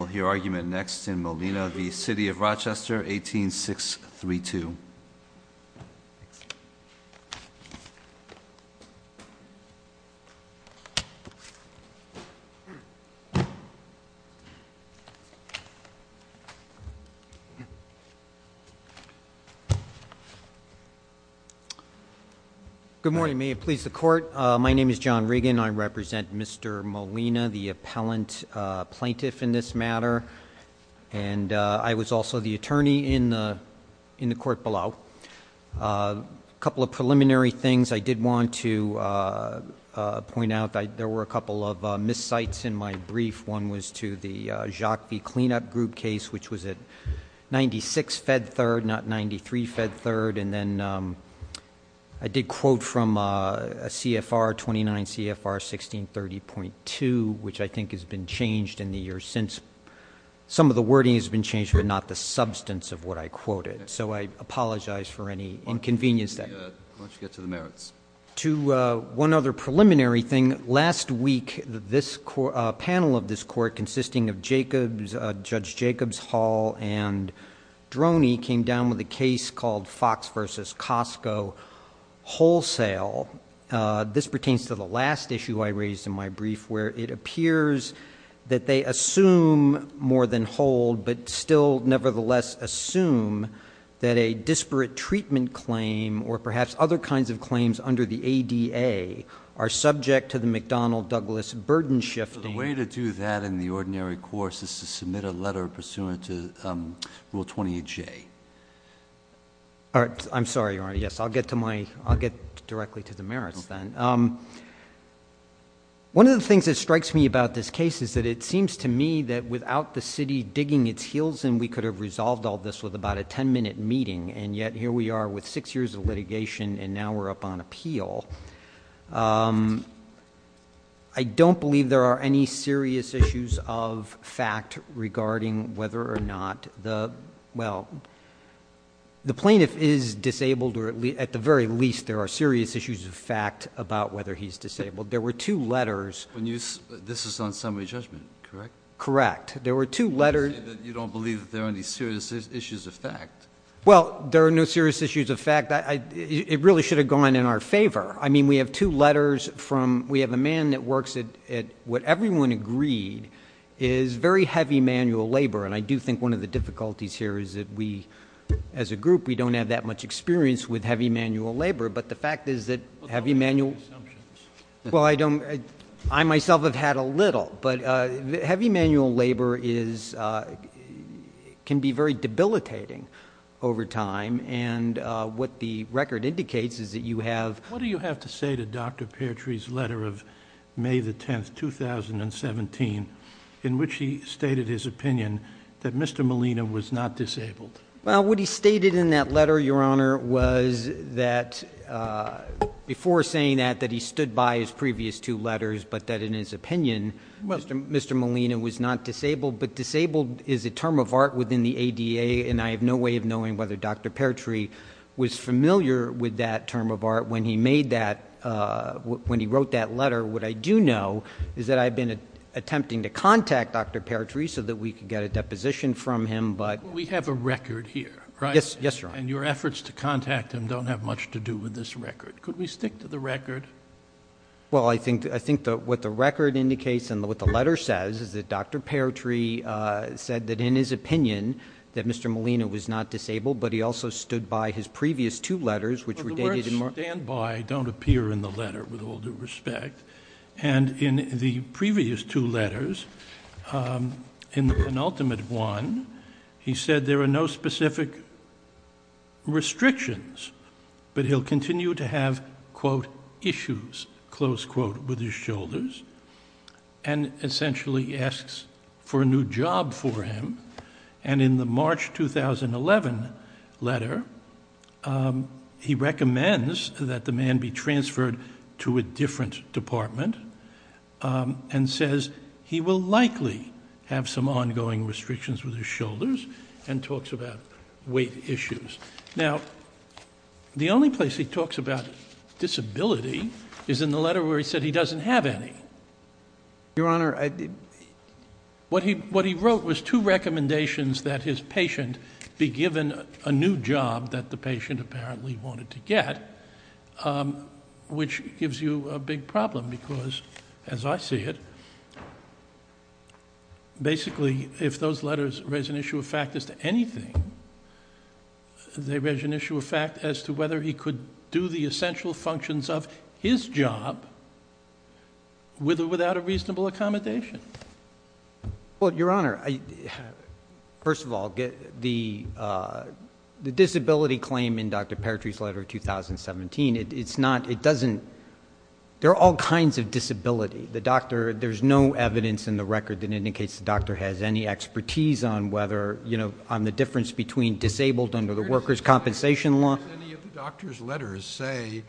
We'll hear argument next in Molina v. City of Rochester, 18632. Good morning. May it please the court. My name is John Regan. I represent Mr. Molina, the appellant plaintiff in this matter, and I was also the attorney in the court below. A couple of preliminary things I did want to point out. There were a couple of miscites in my brief. One was to the Jacques V. Cleanup Group case, which was at 96 Fed Third, not 93 Fed Third. And then I did quote from a CFR, 29 CFR 1630.2, which I think has been changed in the years since. Some of the wording has been changed, but not the substance of what I quoted. So I apologize for any inconvenience. Why don't you get to the merits. To one other preliminary thing, last week, this panel of this court consisting of Jacobs, Judge Jacobs, Hall, and Droney came down with a case called Fox v. Costco Wholesale. This pertains to the last issue I raised in my brief, where it appears that they assume more than hold, but still nevertheless assume that a disparate treatment claim or perhaps other kinds of claims under the ADA are subject to the McDonnell-Douglas burden shifting. The way to do that in the ordinary course is to submit a letter pursuant to Rule 28J. I'm sorry, Your Honor. Yes, I'll get directly to the merits then. One of the things that strikes me about this case is that it seems to me that without the city digging its heels in, we could have resolved all this with about a 10-minute meeting. And yet here we are with six years of litigation, and now we're up on appeal. I don't believe there are any serious issues of fact regarding whether or not the plaintiff is disabled, or at the very least there are serious issues of fact about whether he's disabled. There were two letters. This is on summary judgment, correct? Correct. There were two letters. You say that you don't believe that there are any serious issues of fact. Well, there are no serious issues of fact. It really should have gone in our favor. I mean, we have two letters from we have a man that works at what everyone agreed is very heavy manual labor. And I do think one of the difficulties here is that we, as a group, we don't have that much experience with heavy manual labor. But the fact is that heavy manual. Well, don't make assumptions. Well, I don't. I myself have had a little. But heavy manual labor can be very debilitating over time. And what the record indicates is that you have- What do you have to say to Dr. Pertree's letter of May the 10th, 2017, in which he stated his opinion that Mr. Molina was not disabled? Well, what he stated in that letter, Your Honor, was that before saying that, that he stood by his previous two letters. But that in his opinion, Mr. Molina was not disabled. But disabled is a term of art within the ADA. And I have no way of knowing whether Dr. Pertree was familiar with that term of art when he made that, when he wrote that letter. What I do know is that I've been attempting to contact Dr. Pertree so that we could get a deposition from him. But- We have a record here, right? Yes, Your Honor. And your efforts to contact him don't have much to do with this record. Could we stick to the record? Well, I think what the record indicates and what the letter says is that Dr. Pertree said that in his opinion that Mr. Molina was not disabled. But he also stood by his previous two letters, which were dated- don't appear in the letter, with all due respect. And in the previous two letters, in the penultimate one, he said there are no specific restrictions. But he'll continue to have, quote, issues, close quote, with his shoulders. And essentially asks for a new job for him. And in the March 2011 letter, he recommends that the man be transferred to a different department and says he will likely have some ongoing restrictions with his shoulders and talks about weight issues. Now, the only place he talks about disability is in the letter where he said he doesn't have any. Your Honor, I- What he wrote was two recommendations that his patient be given a new job that the patient apparently wanted to get. Which gives you a big problem because, as I see it, basically if those letters raise an issue of fact as to anything, they raise an issue of fact as to whether he could do the essential functions of his job with or without a reasonable accommodation. Well, Your Honor, I- First of all, the disability claim in Dr. Paratree's letter of 2017, it's not- it doesn't- There are all kinds of disability. The doctor, there's no evidence in the record that indicates the doctor has any expertise on whether, you know, on the difference between disabled under the workers' compensation law- Does any of the doctor's letters say,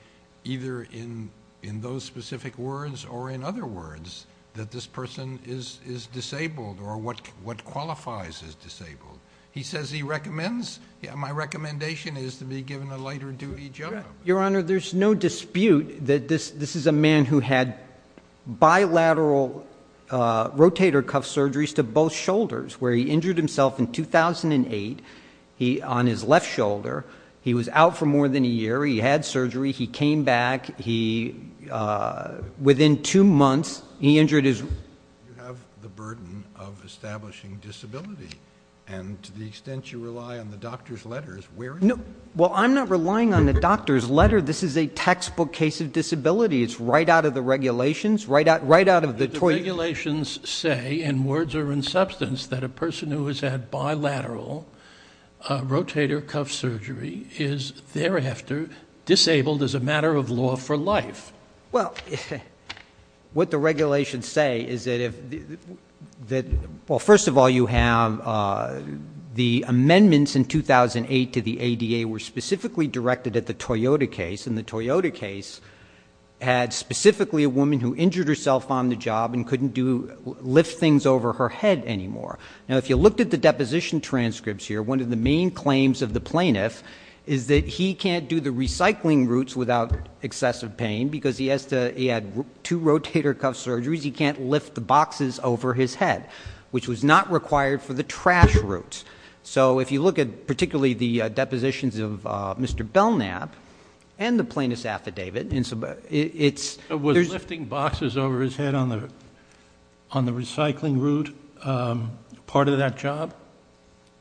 either in those specific words or in other words, that this person is disabled or what qualifies as disabled? He says he recommends, my recommendation is to be given a lighter duty job. Your Honor, there's no dispute that this is a man who had bilateral rotator cuff surgeries to both shoulders where he injured himself in 2008. He- on his left shoulder. He was out for more than a year. He had surgery. He came back. He- within two months, he injured his- You have the burden of establishing disability. And to the extent you rely on the doctor's letters, where- No. Well, I'm not relying on the doctor's letter. This is a textbook case of disability. It's right out of the regulations, right out of the- The regulations say, and words are in substance, that a person who has had bilateral rotator cuff surgery is thereafter disabled as a matter of law for life. Well, what the regulations say is that if- well, first of all, you have the amendments in 2008 to the ADA were specifically directed at the Toyota case. And the Toyota case had specifically a woman who injured herself on the job and couldn't do- lift things over her head anymore. Now, if you looked at the deposition transcripts here, one of the main claims of the plaintiff is that he can't do the recycling routes without excessive pain because he has to- he had two rotator cuff surgeries. He can't lift the boxes over his head, which was not required for the trash routes. So if you look at particularly the depositions of Mr. Belknap and the plaintiff's affidavit, it's- Was lifting boxes over his head on the recycling route part of that job?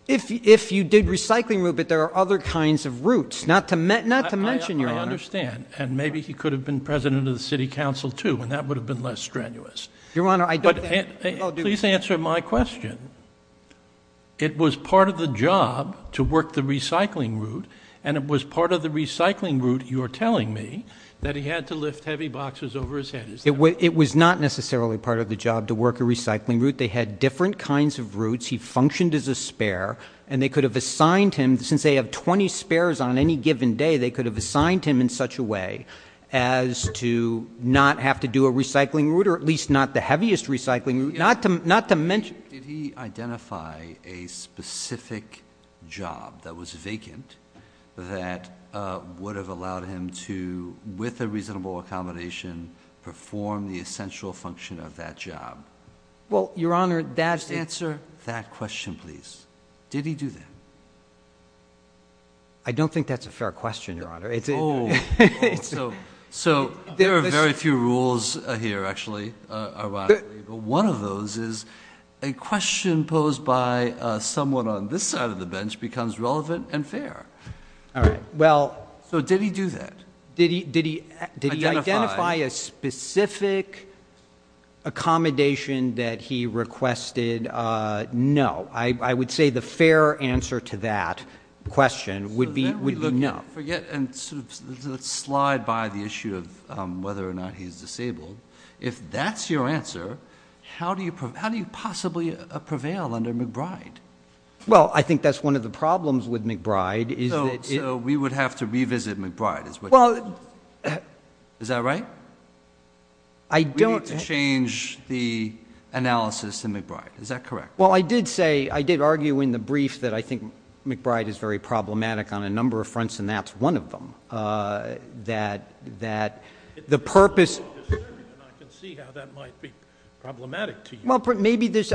If you did recycling route, but there are other kinds of routes, not to mention, Your Honor. I understand. And maybe he could have been president of the city council, too, and that would have been less strenuous. Your Honor, I don't think- Please answer my question. It was part of the job to work the recycling route, and it was part of the recycling route, you're telling me, that he had to lift heavy boxes over his head. Is that right? It was not necessarily part of the job to work a recycling route. They had different kinds of routes. He functioned as a spare, and they could have assigned him- since they have 20 spares on any given day, they could have assigned him in such a way as to not have to do a recycling route, or at least not the heaviest recycling route. Not to mention- Did he identify a specific job that was vacant that would have allowed him to, with a reasonable accommodation, perform the essential function of that job? Well, Your Honor, that's- Just answer that question, please. Did he do that? I don't think that's a fair question, Your Honor. So there are very few rules here, actually, ironically, but one of those is a question posed by someone on this side of the bench becomes relevant and fair. All right. So did he do that? Did he identify a specific accommodation that he requested? No. I would say the fair answer to that question would be no. Forget and slide by the issue of whether or not he's disabled. If that's your answer, how do you possibly prevail under McBride? Well, I think that's one of the problems with McBride is that- So we would have to revisit McBride is what you're saying? Well- Is that right? I don't- You would have to change the analysis in McBride. Is that correct? Well, I did say, I did argue in the brief that I think McBride is very problematic on a number of fronts, and that's one of them, that the purpose- I can see how that might be problematic to you. Well, maybe there's-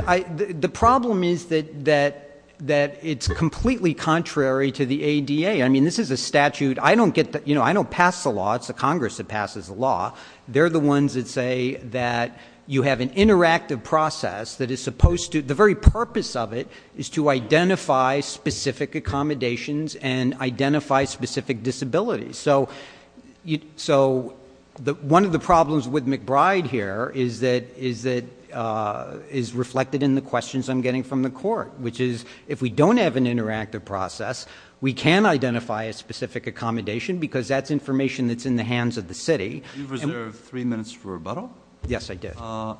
The problem is that it's completely contrary to the ADA. I mean, this is a statute. I don't get the- You know, I don't pass the law. It's the Congress that passes the law. They're the ones that say that you have an interactive process that is supposed to- The very purpose of it is to identify specific accommodations and identify specific disabilities. So one of the problems with McBride here is that- is reflected in the questions I'm getting from the court, which is if we don't have an interactive process, we can identify a specific accommodation because that's information that's in the hands of the city. You reserved three minutes for rebuttal? Yes, I did.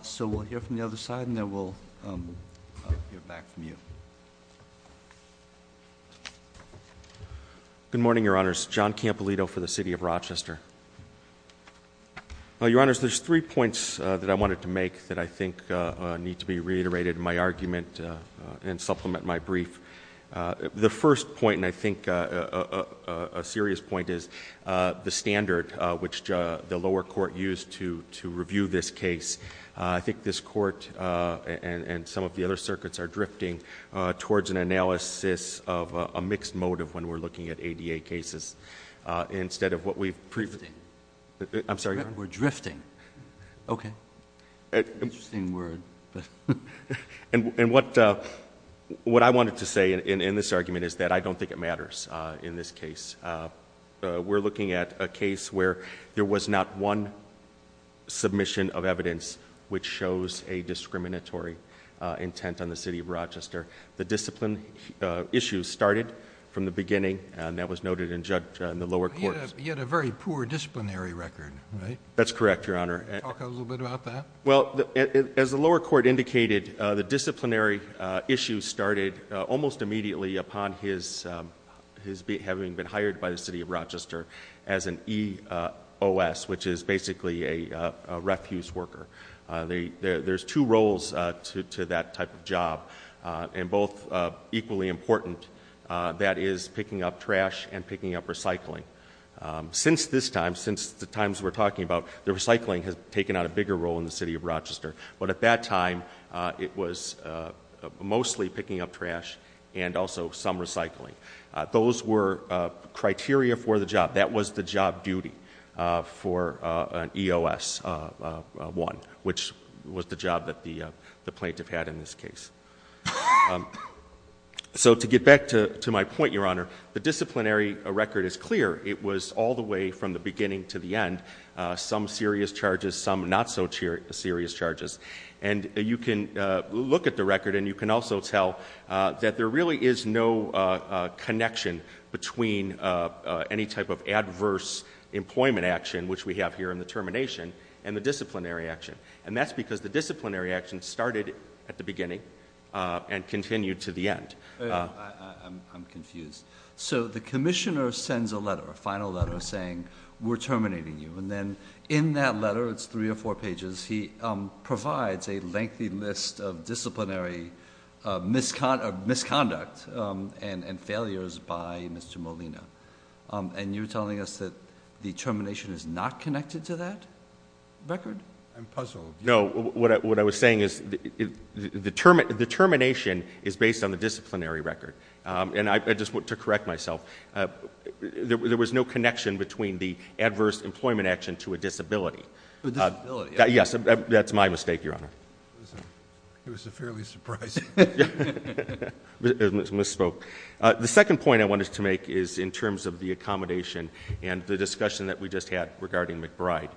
So we'll hear from the other side, and then we'll hear back from you. Good morning, Your Honors. John Campolito for the City of Rochester. Your Honors, there's three points that I wanted to make that I think need to be reiterated in my argument and supplement my brief. The first point, and I think a serious point, is the standard which the lower court used to review this case. I think this court and some of the other circuits are drifting towards an analysis of a mixed motive when we're looking at ADA cases instead of what we've previously- Drifting. I'm sorry? We're drifting. Okay. Interesting word. And what I wanted to say in this argument is that I don't think it matters in this case. We're looking at a case where there was not one submission of evidence which shows a discriminatory intent on the City of Rochester. The discipline issue started from the beginning, and that was noted in the lower courts. He had a very poor disciplinary record, right? That's correct, Your Honor. Talk a little bit about that? Well, as the lower court indicated, the disciplinary issue started almost immediately upon his having been hired by the City of Rochester as an EOS, which is basically a refuse worker. There's two roles to that type of job, and both equally important. That is picking up trash and picking up recycling. Since this time, since the times we're talking about, the recycling has taken on a bigger role in the City of Rochester. But at that time, it was mostly picking up trash and also some recycling. Those were criteria for the job. That was the job duty for an EOS, one, which was the job that the plaintiff had in this case. So to get back to my point, Your Honor, the disciplinary record is clear. It was all the way from the beginning to the end, some serious charges, some not so serious charges. And you can look at the record, and you can also tell that there really is no connection between any type of adverse employment action, which we have here in the termination, and the disciplinary action. And that's because the disciplinary action started at the beginning and continued to the end. I'm confused. So the commissioner sends a letter, a final letter, saying, we're terminating you. And then in that letter, it's three or four pages, he provides a lengthy list of disciplinary misconduct and failures by Mr. Molina. And you're telling us that the termination is not connected to that record? I'm puzzled. No, what I was saying is the termination is based on the disciplinary record. And I just want to correct myself. There was no connection between the adverse employment action to a disability. A disability. Yes, that's my mistake, Your Honor. It was fairly surprising. Misspoke. The second point I wanted to make is in terms of the accommodation and the discussion that we just had regarding McBride.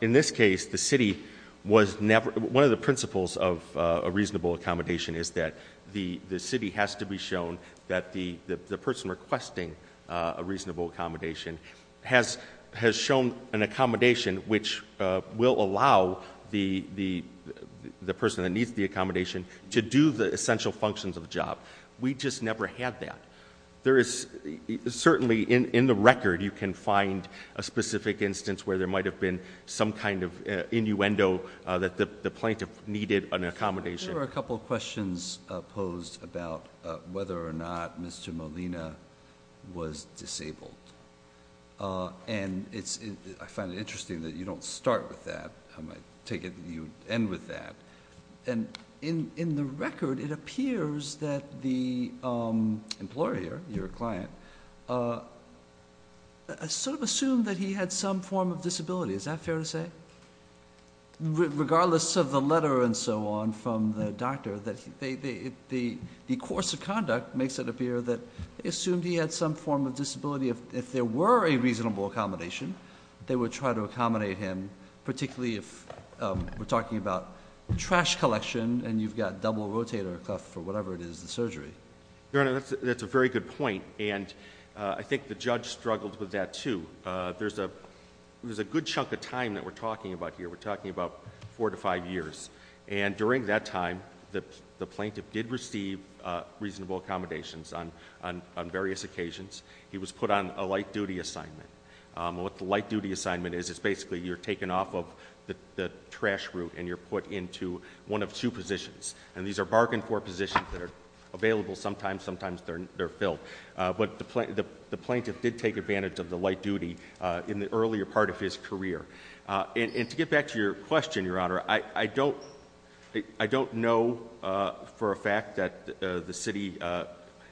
In this case, the city was never one of the principles of a reasonable accommodation is that the city has to be shown that the person requesting a reasonable accommodation has shown an accommodation which will allow the person that needs the accommodation to do the essential functions of the job. We just never had that. Certainly, in the record, you can find a specific instance where there might have been some kind of innuendo that the plaintiff needed an accommodation. There are a couple of questions posed about whether or not Mr. Molina was disabled. And I find it interesting that you don't start with that. I take it that you end with that. In the record, it appears that the employer, your client, sort of assumed that he had some form of disability. Is that fair to say? Regardless of the letter and so on from the doctor, the course of conduct makes it appear that they assumed he had some form of disability. If there were a reasonable accommodation, they would try to accommodate him, particularly if we're talking about trash collection and you've got double rotator cuff or whatever it is, the surgery. Your Honor, that's a very good point. And I think the judge struggled with that, too. There's a good chunk of time that we're talking about here. We're talking about four to five years. And during that time, the plaintiff did receive reasonable accommodations on various occasions. He was put on a light duty assignment. What the light duty assignment is, is basically you're taken off of the trash route and you're put into one of two positions. And these are bargain for positions that are available sometimes, sometimes they're filled. But the plaintiff did take advantage of the light duty in the earlier part of his career. And to get back to your question, Your Honor, I don't know for a fact that the city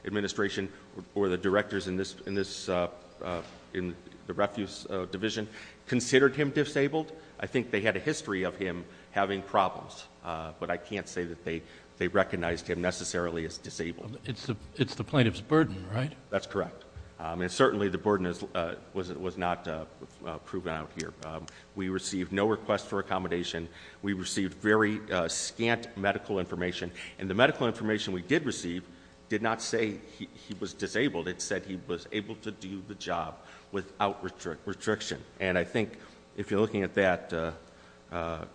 administration or the directors in the refuse division considered him disabled. I think they had a history of him having problems. But I can't say that they recognized him necessarily as disabled. It's the plaintiff's burden, right? That's correct. And certainly the burden was not proven out here. We received no request for accommodation. We received very scant medical information. And the medical information we did receive did not say he was disabled. It said he was able to do the job without restriction. And I think if you're looking at that,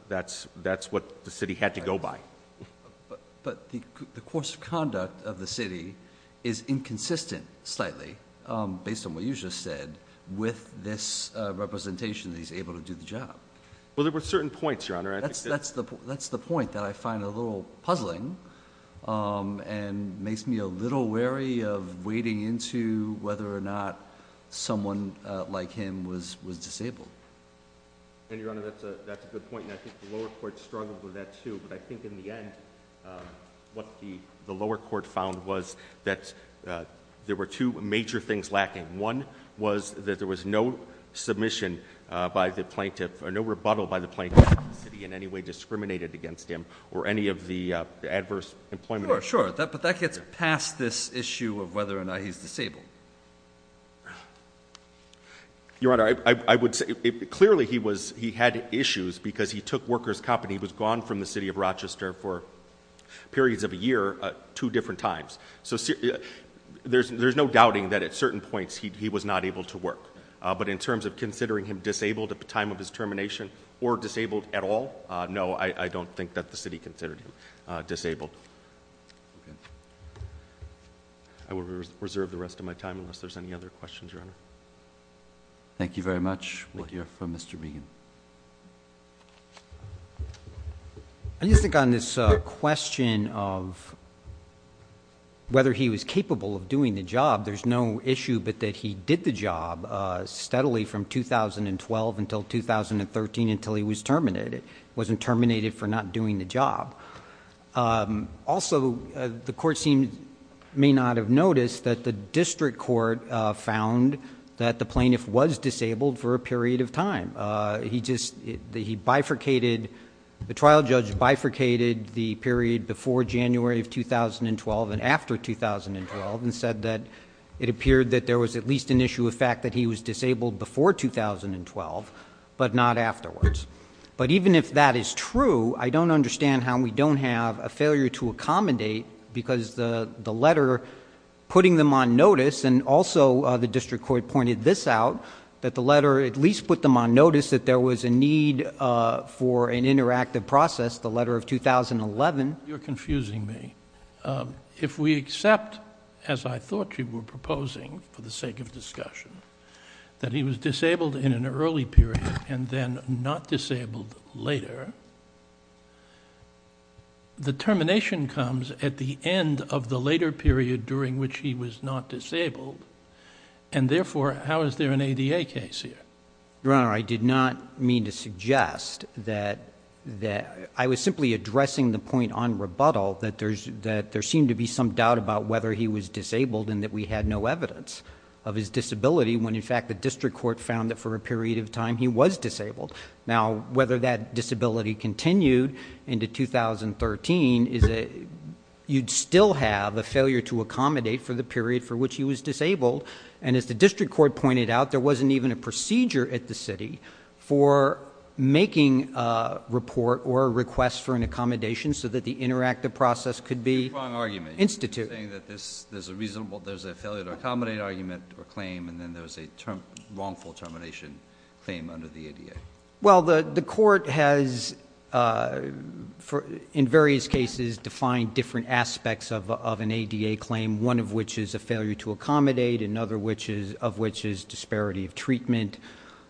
that's what the city had to go by. But the course of conduct of the city is inconsistent slightly, based on what you just said, with this representation that he's able to do the job. Well, there were certain points, Your Honor. That's the point that I find a little puzzling and makes me a little wary of wading into whether or not someone like him was disabled. And Your Honor, that's a good point. And I think the lower court struggled with that, too. But I think in the end, what the lower court found was that there were two major things lacking. One was that there was no submission by the plaintiff or no rebuttal by the plaintiff that the city in any way discriminated against him or any of the adverse employment. Sure, sure. But that gets past this issue of whether or not he's disabled. Your Honor, I would say clearly he had issues because he took worker's company. He was gone from the city of Rochester for periods of a year two different times. So there's no doubting that at certain points he was not able to work. But in terms of considering him disabled at the time of his termination or disabled at all, no, I don't think that the city considered him disabled. Okay. I will reserve the rest of my time unless there's any other questions, Your Honor. Thank you very much. We'll hear from Mr. Regan. I just think on this question of whether he was capable of doing the job, there's no issue but that he did the job steadily from 2012 until 2013 until he was terminated. He wasn't terminated for not doing the job. Also, the court may not have noticed that the district court found that the plaintiff was disabled for a period of time. He bifurcated, the trial judge bifurcated the period before January of 2012 and after 2012 and said that it appeared that there was at least an issue of fact that he was disabled before 2012 but not afterwards. But even if that is true, I don't understand how we don't have a failure to accommodate because the letter putting them on notice and also the district court pointed this out, that the letter at least put them on notice that there was a need for an interactive process, the letter of 2011. You're confusing me. If we accept, as I thought you were proposing for the sake of discussion, that he was disabled in an early period and then not disabled later, the termination comes at the end of the later period during which he was not disabled and therefore how is there an ADA case here? Your Honor, I did not mean to suggest that I was simply addressing the point on rebuttal that there seemed to be some doubt about whether he was disabled and that we had no evidence of his disability when in fact the district court found that for a period of time he was disabled. Now, whether that disability continued into 2013, you'd still have a failure to accommodate for the period for which he was disabled and as the district court pointed out, there wasn't even a procedure at the city for making a report or a request for an accommodation so that the interactive process could be instituted. You're drawing an argument. You're saying that there's a failure to accommodate argument or claim and then there's a wrongful termination claim under the ADA. Well, the court has in various cases defined different aspects of an ADA claim, one of which is a failure to accommodate, another of which is disparity of treatment,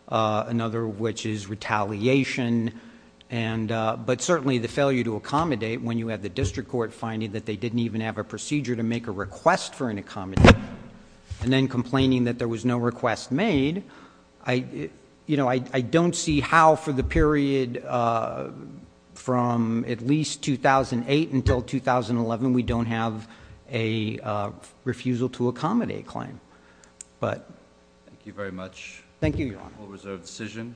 another of which is retaliation, but certainly the failure to accommodate when you have the district court finding that they didn't even have a procedure to make a request for an accommodation and then complaining that there was no request made, I don't see how for the period from at least 2008 until 2011 we don't have a refusal to accommodate claim. Thank you very much.